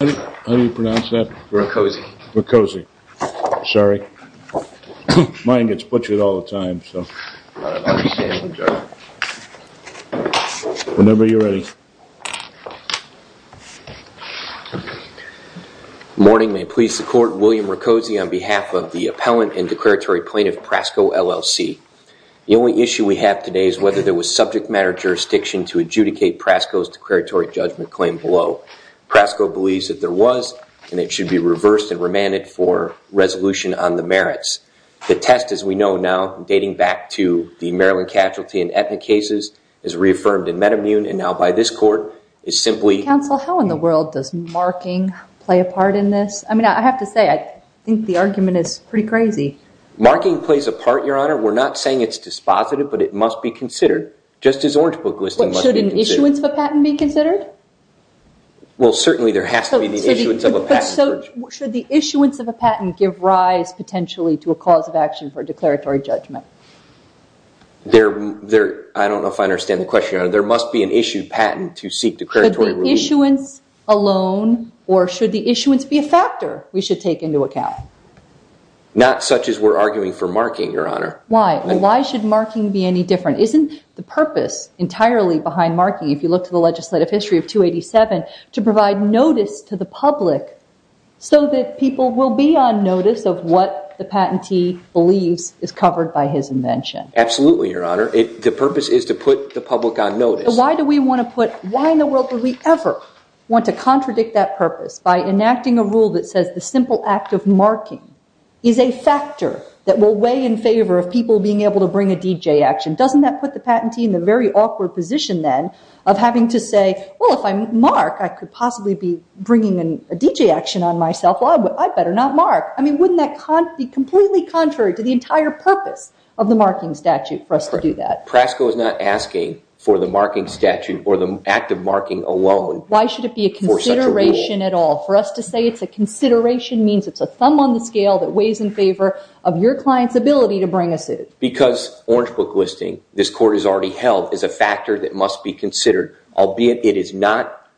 How do you pronounce that? Roccozzi. Sorry. Mine gets butchered all the time, so. I appreciate it, Judge. Whenever you're ready. Good morning. May it please the Court, William Roccozzi on behalf of the Appellant and Declaratory Plaintiff, Prasco, LLC. The only issue we have today is whether there was subject matter jurisdiction to adjudicate Prasco's declaratory judgment claim below. Prasco believes that there was, and it should be reversed and remanded for resolution on the merits. The test, as we know now, dating back to the Maryland casualty and ethnic cases, is reaffirmed in Metamune, and now by this Court, is simply. Counsel, how in the world does marking play a part in this? I mean, I have to say, I think the argument is pretty crazy. Marking plays a part, Your Honor. We're not saying it's dispositive, but it must be considered, just as orange book listing must be considered. Should the issuance of a patent be considered? Well, certainly there has to be the issuance of a patent. But should the issuance of a patent give rise, potentially, to a cause of action for declaratory judgment? There, I don't know if I understand the question, Your Honor. There must be an issued patent to seek declaratory ruling. But the issuance alone, or should the issuance be a factor we should take into account? Not such as we're arguing for marking, Your Honor. Why? Why should marking be any different? Isn't the purpose entirely behind marking, if you look to the legislative history of 287, to provide notice to the public so that people will be on notice of what the patentee believes is covered by his invention? Absolutely, Your Honor. The purpose is to put the public on notice. Why do we want to put, why in the world would we ever want to contradict that purpose by enacting a rule that says the simple act of marking is a factor that will weigh in favor of people being able to bring a DJ action? Doesn't that put the patentee in the very awkward position, then, of having to say, well, if I mark, I could possibly be bringing a DJ action on myself. Well, I better not mark. I mean, wouldn't that be completely contrary to the entire purpose of the marking statute for us to do that? Prasco is not asking for the marking statute or the act of marking alone for such a rule. Why should it be a consideration at all? For us to say it's a consideration means it's a thumb on the scale that weighs in favor of your client's ability to bring a suit. Because Orange Book Listing, this court has already held, is a factor that must be considered. Albeit it is not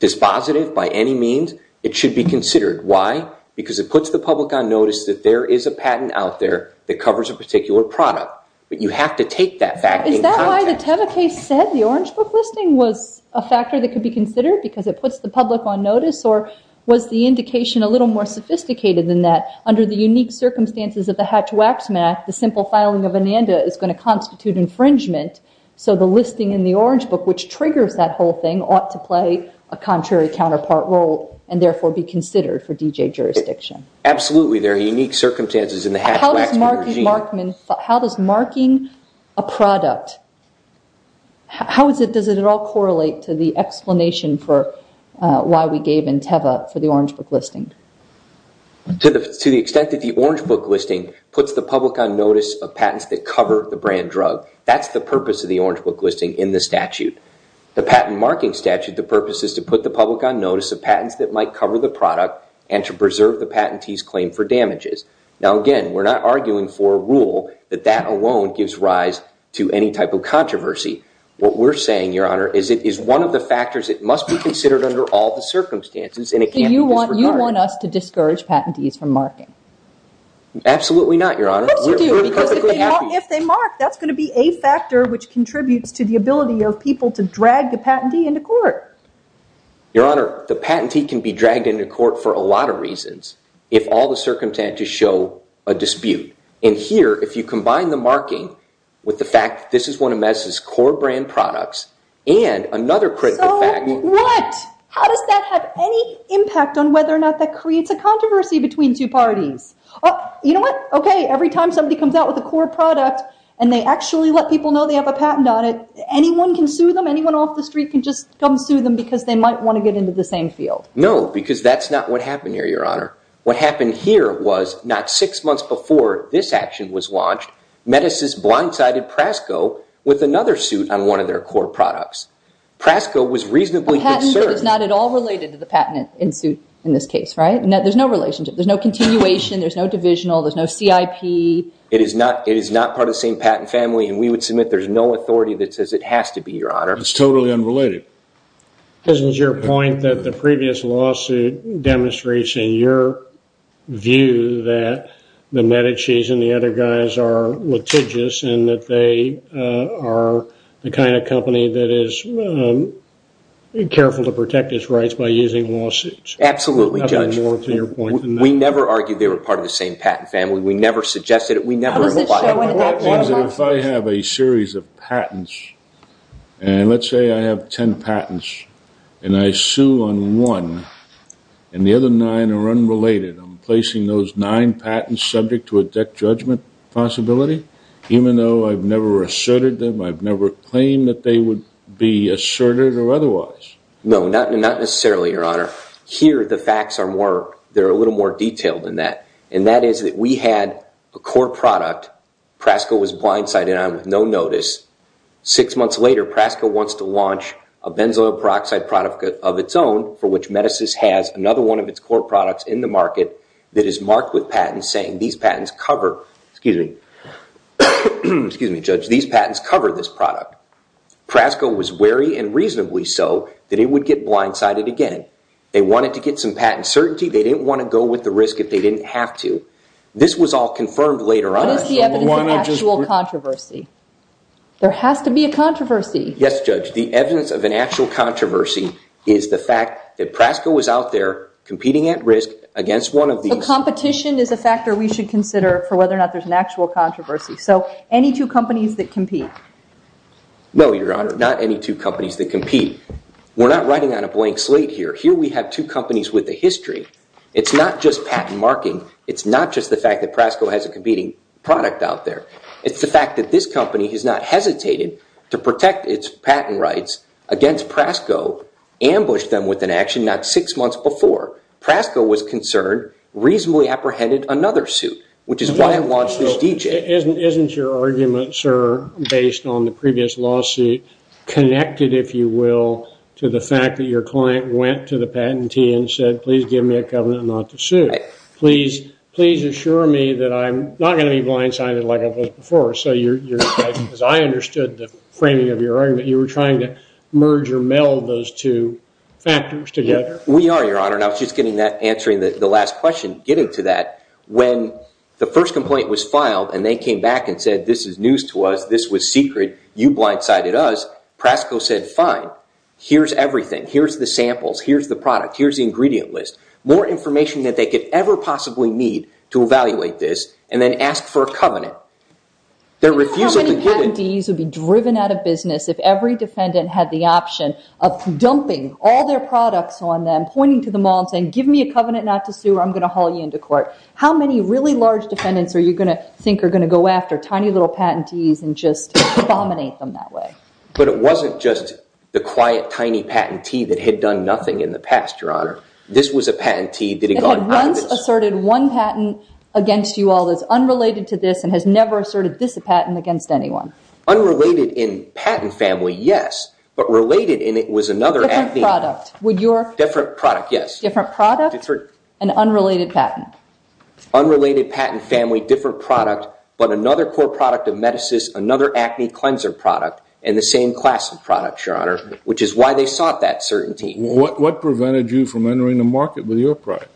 dispositive by any means, it should be considered. Why? Because it puts the public on notice that there is a patent out there that covers a particular product. But you have to take that fact in context. Is that why the Teva case said the Orange Book Listing was a factor that could be considered? Because it puts the public on notice? Or was the indication a little more sophisticated than that? Under the unique circumstances of the Hatch-Waxman Act, the simple filing of a NANDA is going to constitute infringement. So the listing in the Orange Book, which triggers that whole thing, ought to play a contrary counterpart role and therefore be considered for DJ jurisdiction. Absolutely. There are unique circumstances in the Hatch-Waxman regime. How does marking a product, how does it all correlate to the explanation for why we gave in Teva for the Orange Book Listing? To the extent that the Orange Book Listing puts the public on notice of patents that cover the brand drug. That's the purpose of the Orange Book Listing in the statute. The patent marking statute, the purpose is to put the public on notice of patents that might cover the product and to preserve the patentee's claim for damages. Now again, we're not arguing for a rule that that alone gives rise to any type of controversy. What we're saying, Your Honor, is it is one of the factors that must be considered under all the circumstances. So you want us to discourage patentees from marking? Absolutely not, Your Honor. Of course you do, because if they mark, that's going to be a factor which contributes to the ability of people to drag the patentee into court. Your Honor, the patentee can be dragged into court for a lot of reasons if all the circumstances show a dispute. And here, if you combine the marking with the fact that this is one of MS's core brand products and another critical fact... What? How does that have any impact on whether or not that creates a controversy between two parties? You know what? Okay, every time somebody comes out with a core product and they actually let people know they have a patent on it, anyone can sue them, anyone off the street can just come sue them because they might want to get into the same field. No, because that's not what happened here, Your Honor. What happened here was not six months before this action was launched, MEDICIS blindsided PRASCO with another suit on one of their core products. PRASCO was reasonably concerned... A patent suit is not at all related to the patent in this case, right? There's no relationship, there's no continuation, there's no divisional, there's no CIP. It is not part of the same patent family and we would submit there's no authority that says it has to be, Your Honor. It's totally unrelated. This was your point that the previous lawsuit demonstrates in your view that the MEDICIS and the other guys are litigious and that they are the kind of company that is careful to protect its rights by using lawsuits. Absolutely, Judge. We never argued they were part of the same patent family, we never suggested it, we never implied it. If I have a series of patents and let's say I have ten patents and I sue on one and the other nine are unrelated, I'm placing those nine patents subject to a death judgment possibility? Even though I've never asserted them, I've never claimed that they would be asserted or otherwise? No, not necessarily, Your Honor. Here the facts are a little more detailed than that. And that is that we had a core product, PRASCO was blindsided on with no notice. Six months later, PRASCO wants to launch a benzoyl peroxide product of its own for which MEDICIS has another one of its core products in the market that is marked with patents saying these patents cover this product. PRASCO was wary and reasonably so that it would get blindsided again. They wanted to get some patent certainty, they didn't want to go with the risk if they didn't have to. This was all confirmed later on. What is the evidence of actual controversy? There has to be a controversy. Yes, Judge. The evidence of an actual controversy is the fact that PRASCO was out there competing at risk against one of these. So competition is a factor we should consider for whether or not there's an actual controversy. So any two companies that compete? No, Your Honor, not any two companies that compete. We're not writing on a blank slate here. Here we have two companies with a history. It's not just patent marking. It's not just the fact that PRASCO has a competing product out there. It's the fact that this company has not hesitated to protect its patent rights against PRASCO, ambushed them with an action not six months before. PRASCO was concerned, reasonably apprehended another suit. Isn't your argument, sir, based on the previous lawsuit, connected, if you will, to the fact that your client went to the patentee and said, please give me a covenant not to sue. Please assure me that I'm not going to be blindsided like I was before. Because I understood the framing of your argument. You were trying to merge or meld those two factors together. We are, Your Honor. And I was just answering the last question getting to that. When the first complaint was filed and they came back and said, this is news to us, this was secret, you blindsided us, PRASCO said, fine, here's everything. Here's the samples. Here's the product. Here's the ingredient list. More information than they could ever possibly need to evaluate this and then ask for a covenant. Their refusal to give it. Do you know how many patentees would be driven out of business if every defendant had the option of dumping all their products on them, pointing to them all and saying, give me a covenant not to sue or I'm going to haul you into court. How many really large defendants are you going to think are going to go after? Tiny little patentees and just abominate them that way. But it wasn't just the quiet, tiny patentee that had done nothing in the past, Your Honor. This was a patentee that had gone out of business. It had once asserted one patent against you all that's unrelated to this and has never asserted this patent against anyone. Unrelated in patent family, yes. But related in it was another acne. Different product. Different product, yes. Different product and unrelated patent. Unrelated patent family, different product. But another core product of Metasys, another acne cleanser product and the same class of product, Your Honor, which is why they sought that certainty. What prevented you from entering the market with your product?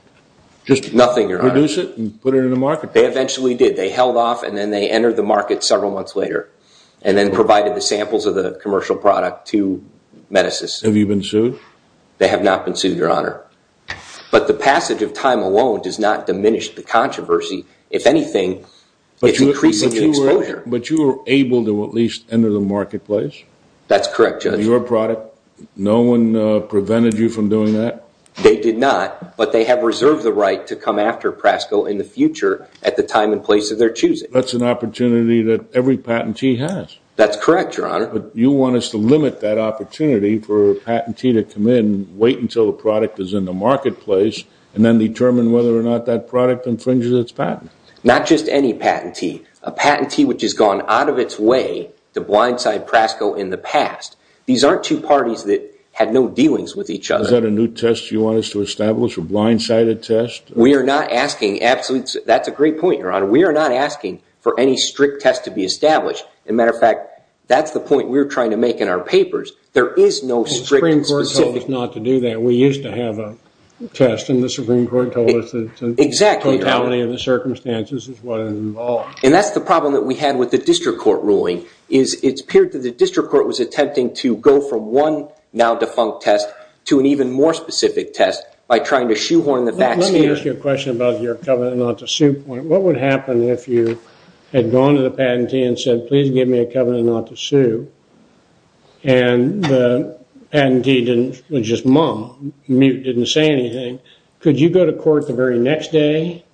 Nothing, Your Honor. Just produce it and put it in the marketplace? They eventually did. They held off and then they entered the market several months later and then provided the samples of the commercial product to Metasys. Have you been sued? They have not been sued, Your Honor. But the passage of time alone does not diminish the controversy. If anything, it's increasing the exposure. But you were able to at least enter the marketplace? That's correct, Judge. With your product, no one prevented you from doing that? They did not, but they have reserved the right to come after Prasco in the future at the time and place of their choosing. That's an opportunity that every patentee has. That's correct, Your Honor. But you want us to limit that opportunity for a patentee to come in, wait until the product is in the marketplace, and then determine whether or not that product infringes its patent. Not just any patentee. A patentee which has gone out of its way to blindside Prasco in the past. These aren't two parties that had no dealings with each other. Is that a new test you want us to establish? A blindsided test? We are not asking. Absolutely. That's a great point, Your Honor. We are not asking for any strict test to be established. As a matter of fact, that's the point we're trying to make in our papers. There is no strict and specific. The Supreme Court told us not to do that. We used to have a test, and the Supreme Court told us that the totality of the circumstances is what is involved. And that's the problem that we had with the district court ruling. It appeared that the district court was attempting to go from one, now defunct test, to an even more specific test by trying to shoehorn the facts here. Let me ask you a question about your covenant not to sue point. What would happen if you had gone to the patentee and said, please give me a covenant not to sue, and the patentee didn't say anything? Could you go to court the very next day?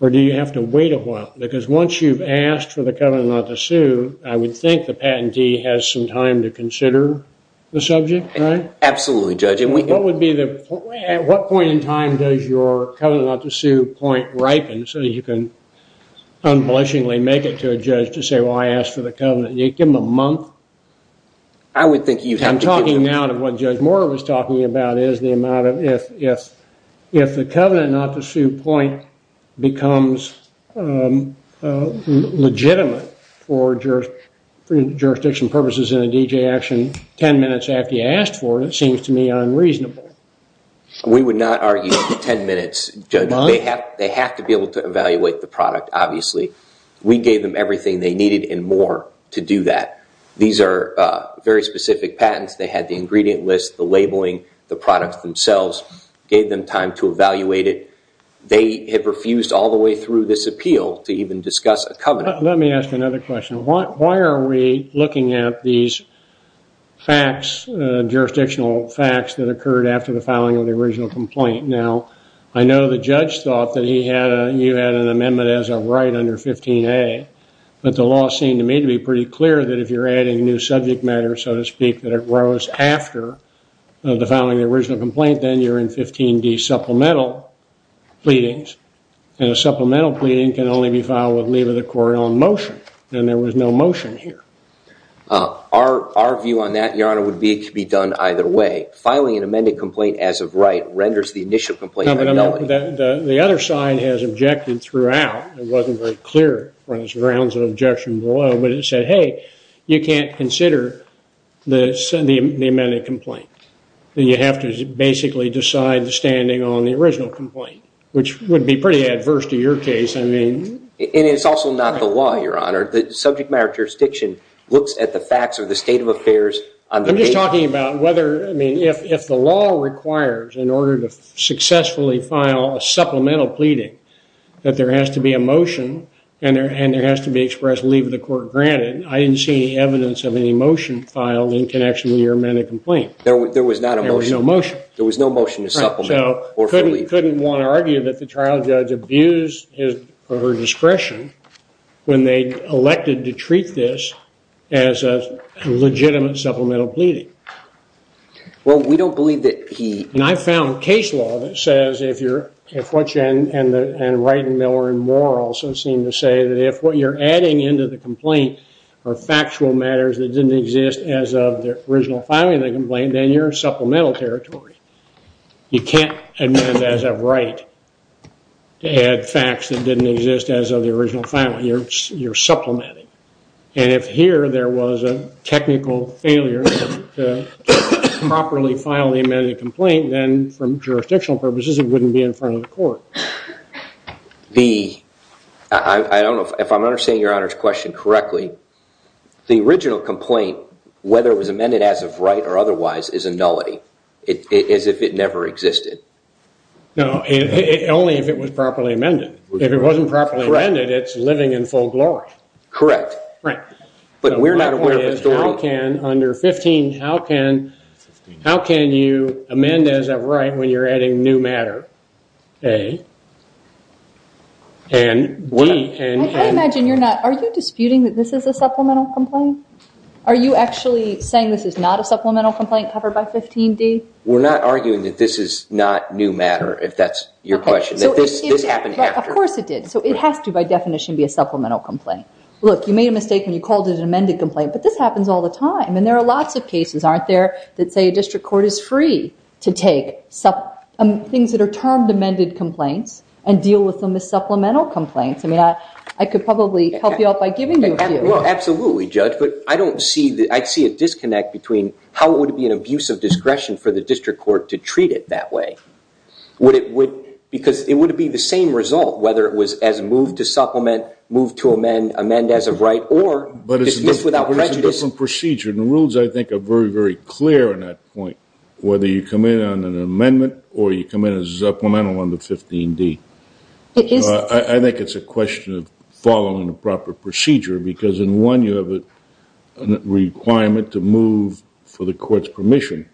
Or do you have to wait a while? Because once you've asked for the covenant not to sue, I would think the patentee has some time to consider the subject, right? Absolutely, Judge. At what point in time does your covenant not to sue point ripen so you can unabashedly make it to a judge to say, well, I asked for the covenant. Give him a month. I'm talking now to what Judge Moore was talking about, is the amount of if the covenant not to sue point becomes legitimate for jurisdiction purposes in a D.J. action 10 minutes after you asked for it, it seems to me unreasonable. We would not argue 10 minutes, Judge. They have to be able to evaluate the product, obviously. We gave them everything they needed and more to do that. These are very specific patents. They had the ingredient list, the labeling, the products themselves. Gave them time to evaluate it. They have refused all the way through this appeal to even discuss a covenant. Let me ask another question. Why are we looking at these facts, jurisdictional facts, that occurred after the filing of the original complaint? Now, I know the judge thought that you had an amendment as a right under 15A. But the law seemed to me to be pretty clear that if you're adding new subject matter, so to speak, that arose after the filing of the original complaint, then you're in 15D supplemental pleadings. And a supplemental pleading can only be filed with leave of the court on motion. And there was no motion here. Our view on that, Your Honor, would be it could be done either way. Filing an amended complaint as of right renders the initial complaint fidelity. The other side has objected throughout. It wasn't very clear. There was rounds of objection below. But it said, hey, you can't consider the amended complaint. You have to basically decide the standing on the original complaint. Which would be pretty adverse to your case, I mean. And it's also not the law, Your Honor. The subject matter jurisdiction looks at the facts of the state of affairs. I'm just talking about whether, I mean, if the law requires in order to successfully file a supplemental pleading that there has to be a motion and there has to be expressed leave of the court granted, I didn't see any evidence of any motion filed in connection with your amended complaint. There was no motion. There was no motion to supplement or for leave. Couldn't want to argue that the trial judge abused his or her discretion when they elected to treat this as a legitimate supplemental pleading. Well, we don't believe that he... And I found case law that says if you're, and Wright and Miller and Moore also seem to say that if what you're adding into the complaint are factual matters that didn't exist as of the original filing of the complaint, then you're in supplemental territory. You can't amend as of right to add facts that didn't exist as of the original filing. You're supplementing. And if here there was a technical failure to properly file the amended complaint, then from jurisdictional purposes it wouldn't be in front of the court. I don't know if I'm understanding your Honor's question correctly. The original complaint, whether it was amended as of Wright or otherwise, is a nullity. As if it never existed. No, only if it was properly amended. If it wasn't properly amended, it's living in full glory. Correct. But we're not aware of a story... Under 15, how can you amend as of Wright when you're adding new matter? A. And B. I imagine you're not... Are you disputing that this is a supplemental complaint? Are you actually saying this is not a supplemental complaint covered by 15D? We're not arguing that this is not new matter, if that's your question. Of course it did. So it has to, by definition, be a supplemental complaint. Look, you made a mistake when you called it an amended complaint, but this happens all the time. And there are lots of cases, aren't there, that say a district court is free to take things that are termed amended complaints and deal with them as supplemental complaints. I mean, I could probably help you out by giving you a few. Absolutely, Judge, but I don't see... I see a disconnect between how it would be an abuse of discretion for the district court to treat it that way. Would it... Because it would be the same result, whether it was as moved to supplement, moved to amend, amend as of right, or dispute without prejudice. But it's a different procedure, and the rules, I think, are very, very clear on that point. Whether you come in on an amendment or you come in as supplemental under 15D. It is... I think it's a question of following the proper procedure, because in one, you have a requirement to move for the court's permission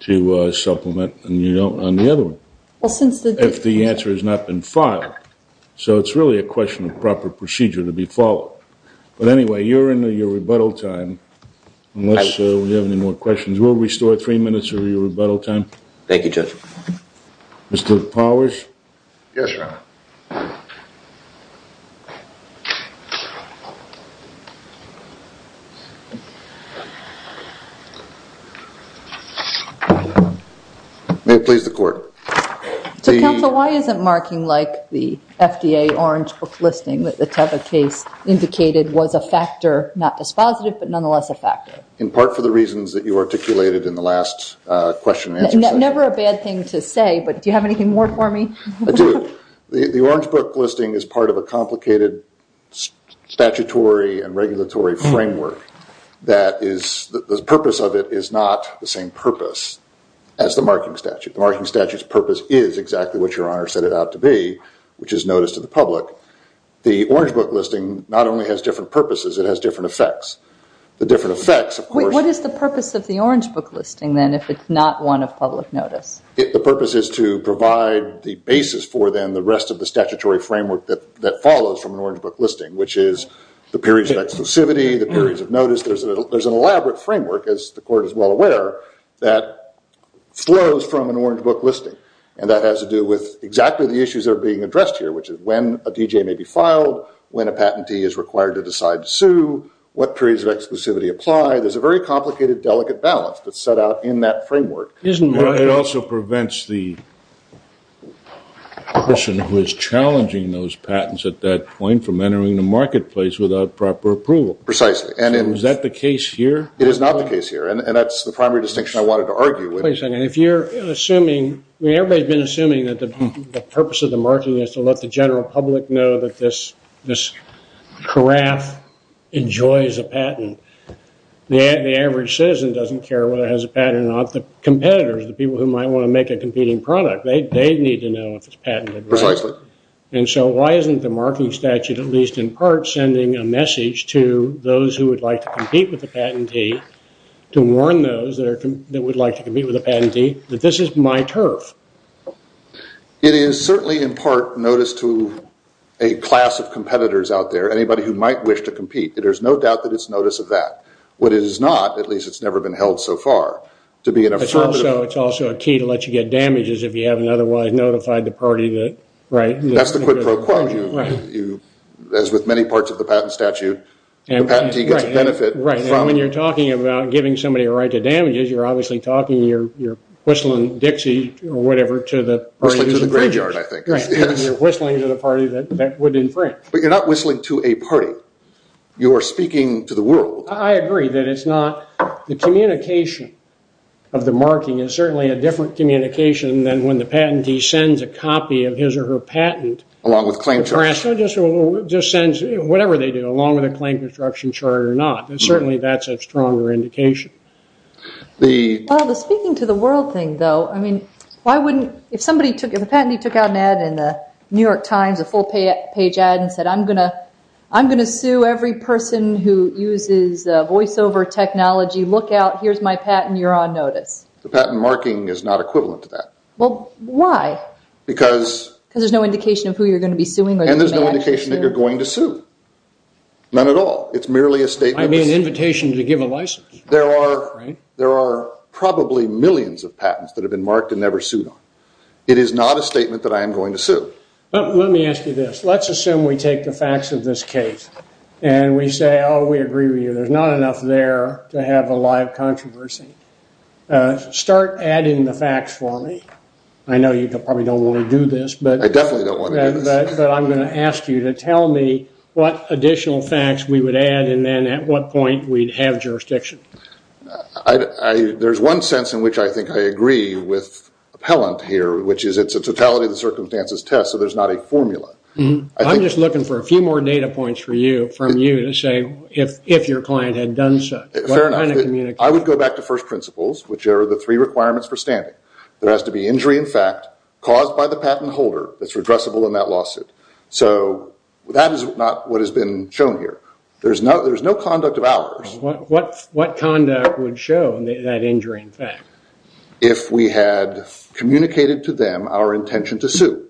to supplement and you don't on the other one. Well, since the... I think it's a question of following the proper procedure to be followed. But anyway, you're in your rebuttal time, unless we have any more questions. We'll restore three minutes of your rebuttal time. Thank you, Judge. Mr. Powers? Yes, Your Honor. May it please the court. So, counsel, why isn't marking like the FDA orange book listing that the Teva case indicated was a factor, not dispositive, but nonetheless a factor? In part for the reasons that you articulated in the last question and answer session. Never a bad thing to say, but do you have anything more for me? I do. The orange book listing is part of a complicated statutory and regulatory framework that is... The purpose of it is not the same purpose as the marking statute. The marking statute's purpose is exactly what Your Honor set it out to be, which is notice to the public. The orange book listing not only has different purposes, it has different effects. The different effects, of course... What is the purpose of the orange book listing, then, if it's not one of public notice? The purpose is to provide the basis for, then, the rest of the statutory framework that follows from an orange book listing, which is the periods of exclusivity, the periods of notice. There's an elaborate framework, as the Court is well aware, that flows from an orange book listing, and that has to do with exactly the issues that are being addressed here, which is when a D.J. may be filed, when a patentee is required to decide to sue, what periods of exclusivity apply. There's a very complicated, delicate balance that's set out in that framework. It also prevents the person who is challenging those patents at that point from entering the marketplace without the proper approval. Is that the case here? It is not the case here, and that's the primary distinction I wanted to argue with. Everybody's been assuming that the purpose of the marking is to let the general public know that this carafe enjoys a patent. The average citizen doesn't care whether it has a patent or not. The competitors, the people who might want to make a competing product, they need to know if it's patented. Precisely. Why isn't the marking statute, at least in part, sending a message to those who would like to compete with the patentee to warn those that would like to compete with the patentee that this is my turf? It is certainly, in part, noticed to a class of competitors out there, anybody who might wish to compete, that there's no doubt that it's notice of that. What it is not, at least it's never been held so far, to be an affirmative... It's also a key to let you get damages if you haven't otherwise notified the party that... That's the quid pro quo. As with many parts of the patent statute, the patentee gets a benefit... When you're talking about giving somebody a right to damages, you're obviously talking, you're whistling Dixie or whatever to the party... Whistling to the graveyard, I think. You're whistling to the party that would infringe. But you're not whistling to a party. You're speaking to the world. I agree that it's not... The communication of the marking is certainly a different communication than when the patentee sends a copy of his or her patent... Just sends whatever they do, along with a claim construction chart or not. Certainly, that's a stronger indication. Speaking to the world thing, though, why wouldn't... If a patentee took out an ad in the New York Times, a full-page ad, and said, I'm going to sue every person who uses voiceover technology, look out, here's my patent, you're on notice. The patent marking is not equivalent to that. Why? Because there's no indication of who you're going to be suing. And there's no indication that you're going to sue. None at all. It's merely a statement. I mean, an invitation to give a license. There are probably millions of patents that have been marked and never sued on. It is not a statement that I am going to sue. Let me ask you this. Let's assume we take the facts of this case, and we say, oh, we agree with you. There's not enough there to have a live controversy. Start adding the facts for me. I know you probably don't want to do this. I definitely don't want to do this. But I'm going to ask you to tell me what additional facts we would add, and then at what point we'd have jurisdiction. There's one sense in which I think I agree with Appellant here, which is it's a totality of the circumstances test, so there's not a formula. I'm just looking for a few more data points from you to say if your client had done so. Fair enough. I would go back to first principles, which are the three requirements for standing. There has to be injury in fact caused by the patent holder that's redressable in that lawsuit. That is not what has been shown here. There's no conduct of ours. What conduct would show that injury in fact? If we had communicated to them our intention to sue.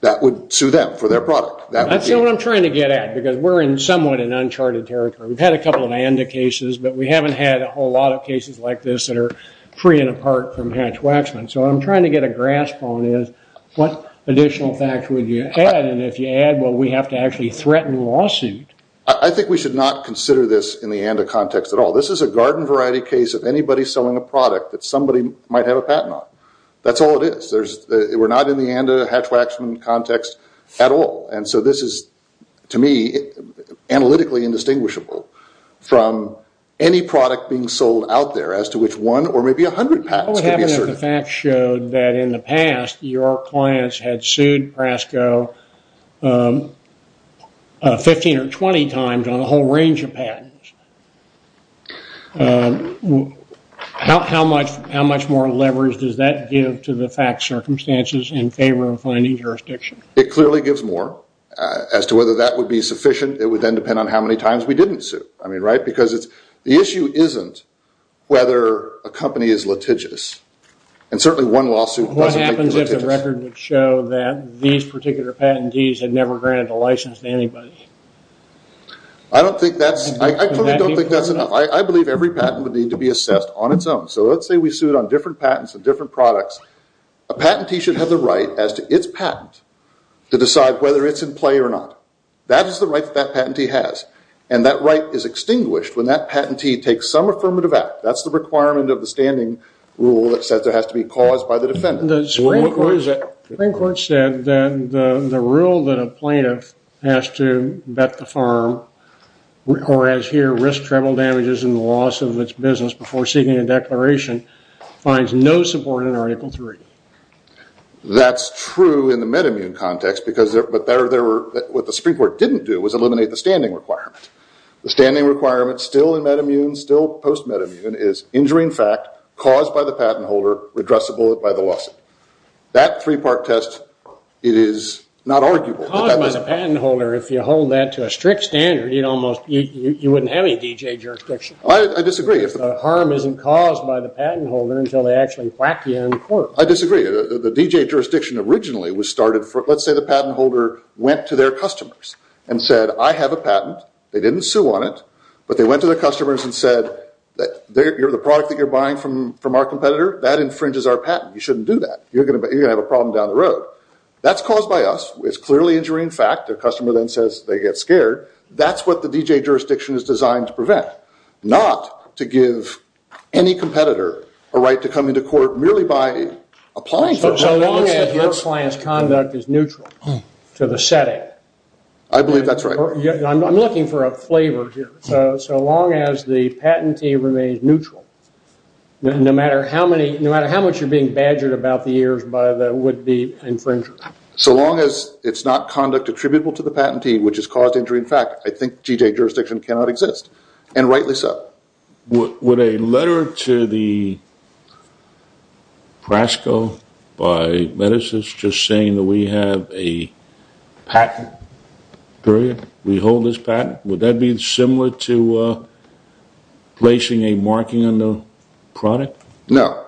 That would sue them for their product. That would be it. We're in somewhat an uncharted territory. We've had a couple of ANDA cases, but we haven't had a whole lot of cases like this that are free and apart from Hatch-Waxman. What I'm trying to get a grasp on is what additional facts would you add, and if you add, will we have to actually threaten the lawsuit? I think we should not consider this in the ANDA context at all. This is a garden variety case of anybody selling a product that somebody might have a patent on. That's all it is. We're not in the ANDA Hatch-Waxman context at all. This is, to me, analytically indistinguishable from any product being sold out there as to which one or maybe a hundred patents could be asserted. What would happen if the facts showed that in the past your clients had sued PRASCO 15 or 20 times on a whole range of patents? How much more leverage does that give to the fact circumstances in favor of finding jurisdiction? It clearly gives more. As to whether that would be sufficient, it would then depend on how many times we didn't sue. The issue isn't whether a company is litigious, and certainly one lawsuit wasn't litigious. What happens if the record would show that these particular patentees had never granted a license to anybody? I don't think that's enough. I believe every patent would need to be assessed on its own. So let's say we sued on different patents and different products. A patentee should have the right, as to its patent, to decide whether it's in play or not. That is the right that that patentee has. And that right is extinguished when that patentee takes some affirmative act. That's the requirement of the standing rule that says it has to be caused by the defendant. The Supreme Court said that the rule that a plaintiff has to vet the firm or as here, risk treble damages in the loss of its business before seeking a declaration finds no support in Article 3. That's true in the MedImmune context because what the Supreme Court didn't do was eliminate the standing requirement. The standing requirement, still in MedImmune, still post-MedImmune, is injury in fact, caused by the patent holder, redressable by the lawsuit. That three-part test, it is not arguable. Caused by the patent holder, if you hold that to a strict standard, you wouldn't have any D.J. jurisdiction. The harm isn't caused by the I disagree. The D.J. jurisdiction originally was started, let's say the patent holder went to their customers and said, I have a patent. They didn't sue on it, but they went to their customers and said, the product that you're buying from our competitor, that infringes our patent. You shouldn't do that. You're going to have a problem down the road. That's caused by us. It's clearly injury in fact. Their customer then says they get scared. That's what the D.J. jurisdiction is designed to prevent. Not to give any competitor a right to come into court merely by applying for it. So long as your client's conduct is neutral to the setting. I believe that's right. I'm looking for a flavor here. So long as the patentee remains neutral no matter how many no matter how much you're being badgered about the years by the infringer. So long as it's not conduct attributable to the patentee, which has caused injury in fact, I think D.J. jurisdiction cannot exist. And rightly so. Would a letter to the PRASCO by MEDICIS just saying that we have a patent period, we hold this patent, would that be similar to placing a marking on the product? No.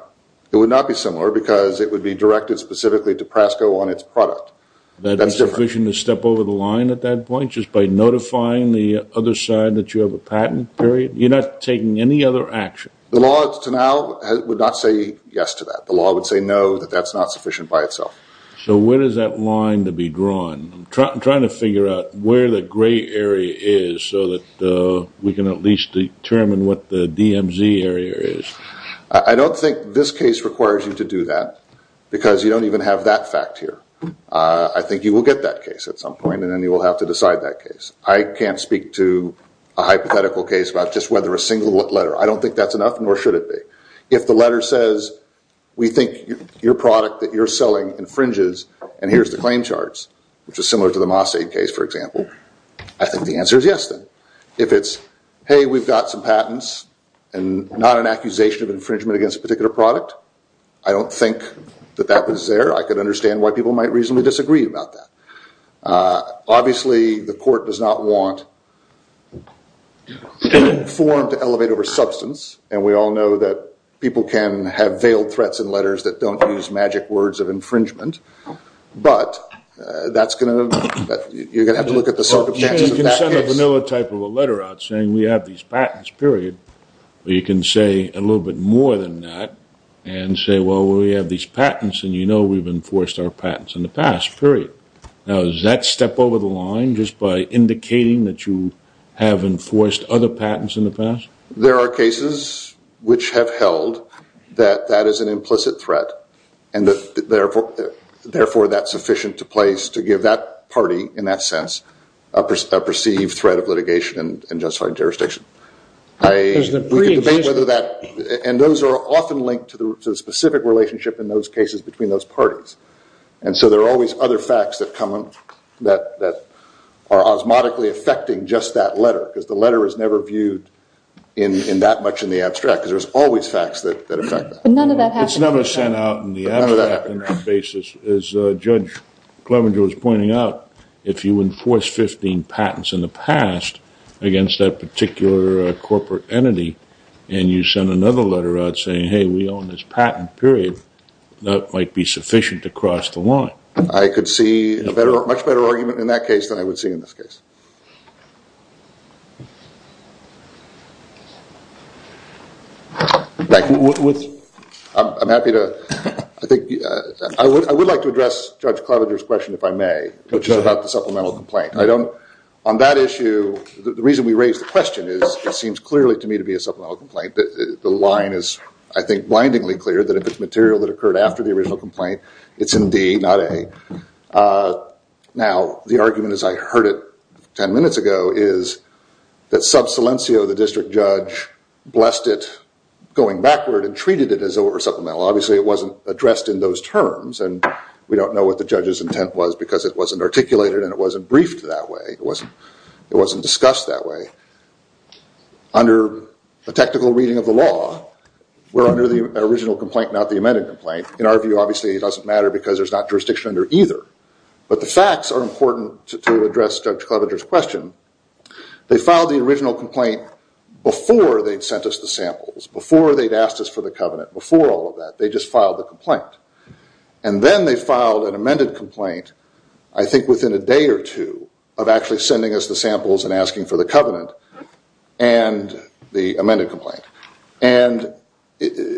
It would not be similar because it would be directed specifically to PRASCO on its product. That's sufficient to step over the line at that point just by notifying the other side that you have a The law to now would not say yes to that. The law would say no, that that's not sufficient by itself. So where does that line to be drawn? I'm trying to figure out where the gray area is so that we can at least determine what the DMZ area is. I don't think this case requires you to do that because you don't even have that fact here. I think you will get that case at some point and then you will have to decide that case. I can't speak to a hypothetical case about just whether a single letter. I don't think that's enough nor should it be. If the letter says we think your product that you're selling infringes and here's the claim charts which is similar to the Mossade case for example I think the answer is yes then. If it's hey we've got some patents and not an accusation of infringement against a particular product I don't think that that was there. I can understand why people might reasonably disagree about that. Obviously the court does not want any form to elevate over substance and we all know that people can have veiled threats in letters that don't use magic words of infringement but that's going to you're going to have to look at the circumstances of that case. You can send a vanilla type of a letter out saying we have these patents period but you can say a little bit more than that and say well we have these patents and you know we've enforced our patents in the past period. Now does that step over the line just by indicating that you have enforced other patents in the past? There are cases which have held that that is an implicit threat and therefore that's sufficient to place to give that party in that sense a perceived threat of litigation and justified jurisdiction. And those are often linked to the specific relationship in those cases between those parties and so there are always other facts that are osmotically affecting just that letter because the letter is never viewed in that much in the abstract because there's always facts that affect that. It's never sent out in the abstract in that basis as Judge Clevenger was pointing out if you enforce 15 patents in the past against that particular corporate entity and you send another letter out saying hey we own this patent period that might be sufficient to cross the line. I could see a much better argument in that case than I would see in this case. I'm happy to I would like to address Judge Clevenger's question if I may which is about the supplemental complaint. On that issue the reason we raised the question is it seems clearly to me to be a supplemental complaint the line is I think blindingly clear that if it's material that occurred after the original complaint it's in D not A Now the argument as I heard it ten minutes ago is that sub silencio the district judge blessed it going backward and treated it as over supplemental. Obviously it wasn't addressed in those terms and we don't know what the judge's intent was because it wasn't articulated and it wasn't briefed that way. It wasn't discussed that way. Under the technical reading of the law we're under the original complaint not the amended complaint. In our view obviously it doesn't matter because there's not jurisdiction under either but the facts are important to address Judge Clevenger's question they filed the original complaint before they'd sent us the samples, before they'd asked us for the covenant before all of that. They just filed the complaint and then they filed an amended complaint I think within a day or two of actually sending us the samples and asking for the covenant and the amended complaint and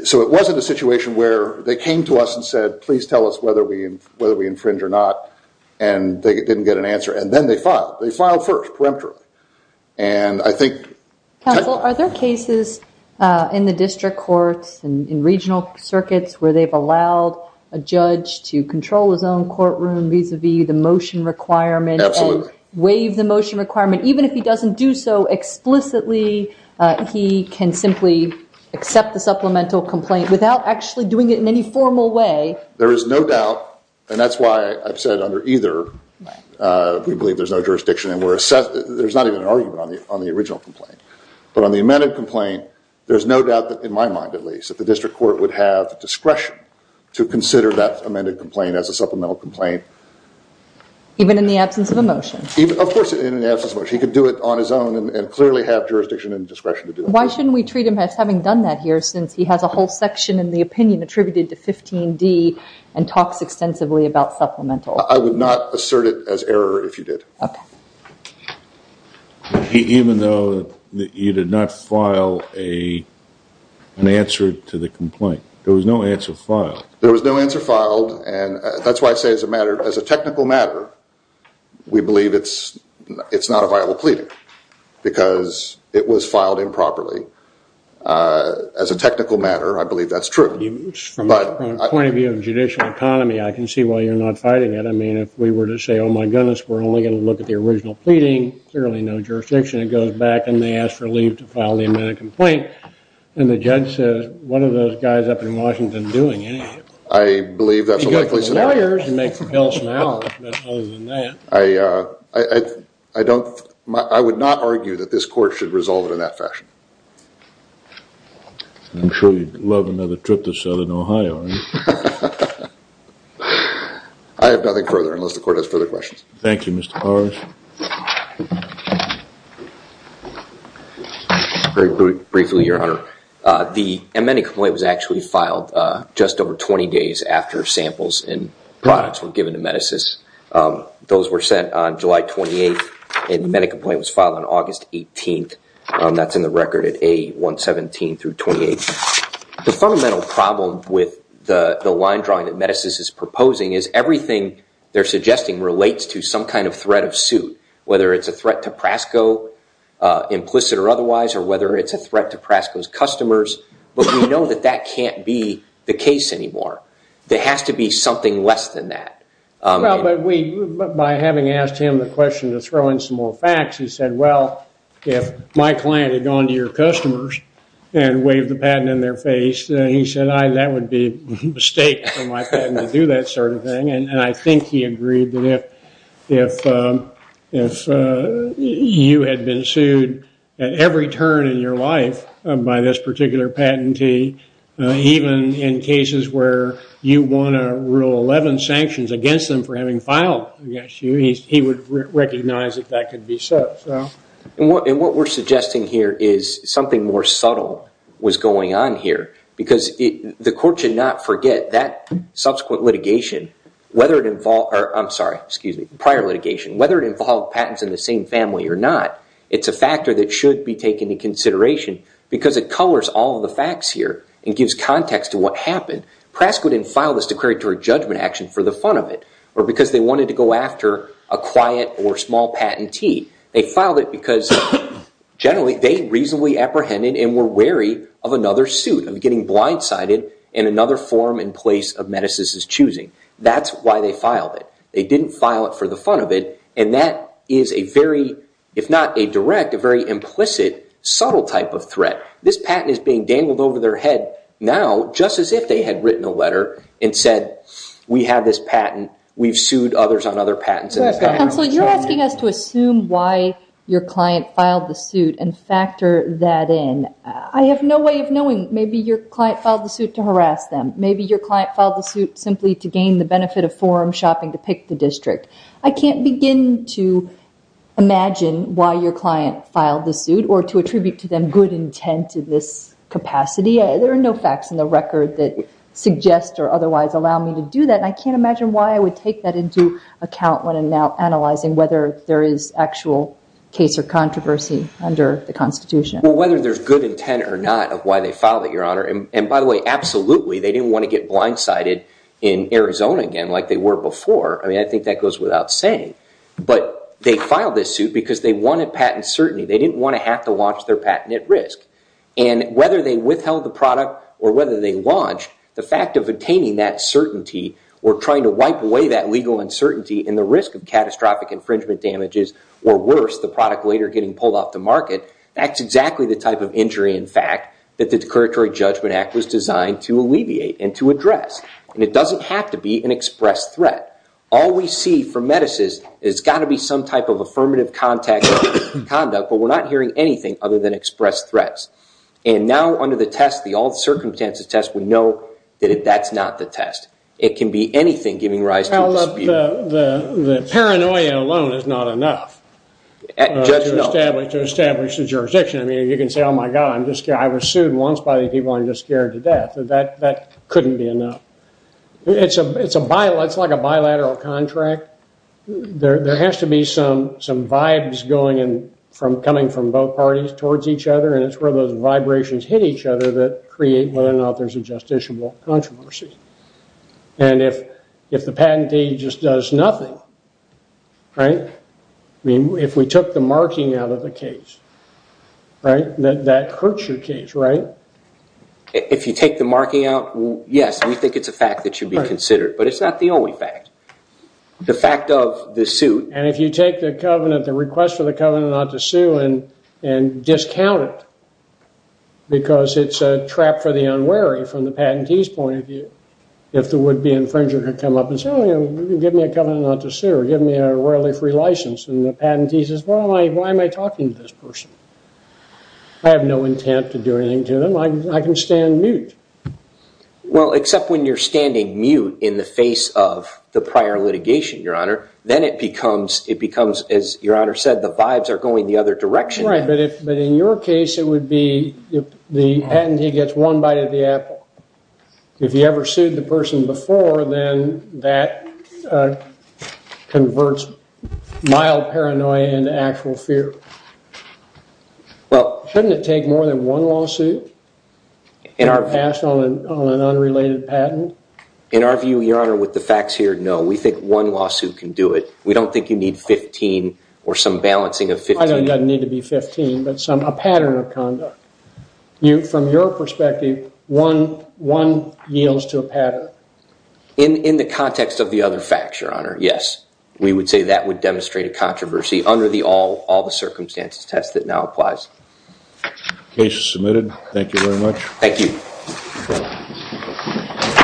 so it wasn't a situation where they came to us and said please tell us whether we infringe or not and they didn't get an answer and then they filed. They filed first, peremptorily and I think Counsel, are there cases in the district courts and in regional circuits where they've allowed a judge to control his own courtroom vis-a-vis the motion requirement and waive the motion requirement even if he doesn't do so explicitly he can simply accept the supplemental complaint without actually doing it in any formal way. There is no doubt and that's why I've said under either we believe there's no jurisdiction and there's not even an argument on the original complaint but on the amended complaint there's no doubt in my mind at least that the district court would have discretion to consider that amended complaint as a supplemental complaint even in the absence of a motion. Of course he could do it on his own and clearly have jurisdiction and discretion to do it. Why shouldn't we treat him as having done that here since he has a whole section in the opinion attributed to 15D and talks extensively about supplemental. I would not assert it as error if you did. Even though you did not file an answer to the complaint there was no answer filed. There was no answer filed and that's why I say as a matter as a technical matter we believe it's not a viable plea because it was filed improperly. As a technical matter I believe that's true. From the point of view of judicial economy I can see why you're not fighting it. I mean if we were to say oh my goodness we're only going to look at the original pleading, clearly no jurisdiction it goes back and they ask for leave to file the amended complaint and the judge says what are those guys up in Washington doing anyway? I believe that's a likely scenario. I I would not argue that this court should resolve it in that fashion. I'm sure you'd love another trip to Southern Ohio. I have nothing further unless the court has further questions. Thank you Mr. Morris. Very briefly your honor. The amended complaint was actually filed just over 20 days after samples and those were sent on July 28th and the amended complaint was filed on August 18th. That's in the record at A117 through 28th. The fundamental problem with the line drawing that Metasys is proposing is everything they're suggesting relates to some kind of threat of suit. Whether it's a threat to Prasco implicit or otherwise or whether it's a threat to Prasco's customers but we know that that can't be the case anymore. There has to be something less than that. By having asked him the question to throw in some more facts he said well if my client had gone to your customers and waved the patent in their face then he said that would be a mistake for my patent to do that sort of thing and I think he agreed that if if you had been sued at every turn in your life by this particular patentee even in cases where you want to rule 11 sanctions against them for having filed against you he would recognize if that could be so. What we're suggesting here is something more subtle was going on here because the court should not forget that subsequent litigation whether it involved prior litigation whether it involved patents in the same family or not it's a factor that should be taken into consideration because it colors all the facts here and gives context to what happened. Prask wouldn't file this declaratory judgment action for the fun of it or because they wanted to go after a quiet or small patentee. They filed it because generally they reasonably apprehended and were wary of another suit of getting blindsided in another form and place of Metasys' choosing. That's why they filed it. They didn't file it for the fun of it and that is a very if not a direct a very implicit subtle type of threat. This patent is being dangled over their head now just as if they had written a letter and said we have this patent we've sued others on other patents. Counselor, you're asking us to assume why your client filed the suit and factor that in. I have no way of knowing. Maybe your client filed the suit to harass them. Maybe your client filed the suit simply to gain the benefit of forum shopping to pick the district. I can't begin to imagine why your client filed the suit or to attribute to them good intent in this capacity. There are no facts in the record that suggest or otherwise allow me to do that. I can't imagine why I would take that into account when I'm now analyzing whether there is actual case or controversy under the Constitution. Whether there's good intent or not of why they filed it, Your Honor. By the way, absolutely they didn't want to get blindsided in Arizona again like they were before. I think that goes without saying. They filed this suit because they wanted patent at risk. Whether they withheld the product or whether they launched, the fact of attaining that certainty or trying to wipe away that legal uncertainty and the risk of catastrophic infringement damages or worse the product later getting pulled off the market, that's exactly the type of injury in fact that the Declaratory Judgment Act was designed to alleviate and to address. It doesn't have to be an express threat. All we see from Metis is it's got to be some type of affirmative contact conduct, but we're not hearing anything other than express threats. Now under the test, the all circumstances test, we know that that's not the test. It can be anything giving rise to dispute. The paranoia alone is not enough to establish the jurisdiction. You can say, oh my God, I was sued once by people and I'm just scared to death. That couldn't be enough. It's like a bilateral contract. There has to be some vibes coming from both parties towards each other and it's where those vibrations hit each other that create whether or not there's a justiciable controversy. If the patentee just does nothing, if we took the marking out of the case, that hurts your case, right? If you take the marking out, yes, we think it's a fact that should be considered, but it's not the only fact. The fact of the suit. And if you take the covenant, the request for the covenant not to sue and discount it because it's a trap for the unwary from the patentee's point of view if the would-be infringer could come up and say, oh, give me a covenant not to sue or give me a rarely free license and the patentee says, well, why am I talking to this person? I have no intent to do anything to them. I can stand mute. Well, except when you're standing mute in the face of the prior litigation, Your Honor, then it becomes, as Your Honor said, the vibes are going the other direction. But in your case, it would be if the patentee gets one bite of the apple. If you ever sued the person before, then that converts mild paranoia into actual fear. Well, shouldn't it take more than one lawsuit to pass on an unrelated patent? In our view, Your Honor, with the facts here, no. We think one lawsuit can do it. We don't think you need 15 or some balancing of 15. I don't need to be 15, but a pattern of conduct. From your perspective, one yields to a pattern. In the context of the other facts, Your Honor, yes. We would say that would demonstrate a controversy under all the circumstances test that now applies. Case is submitted. Thank you very much. Thank you.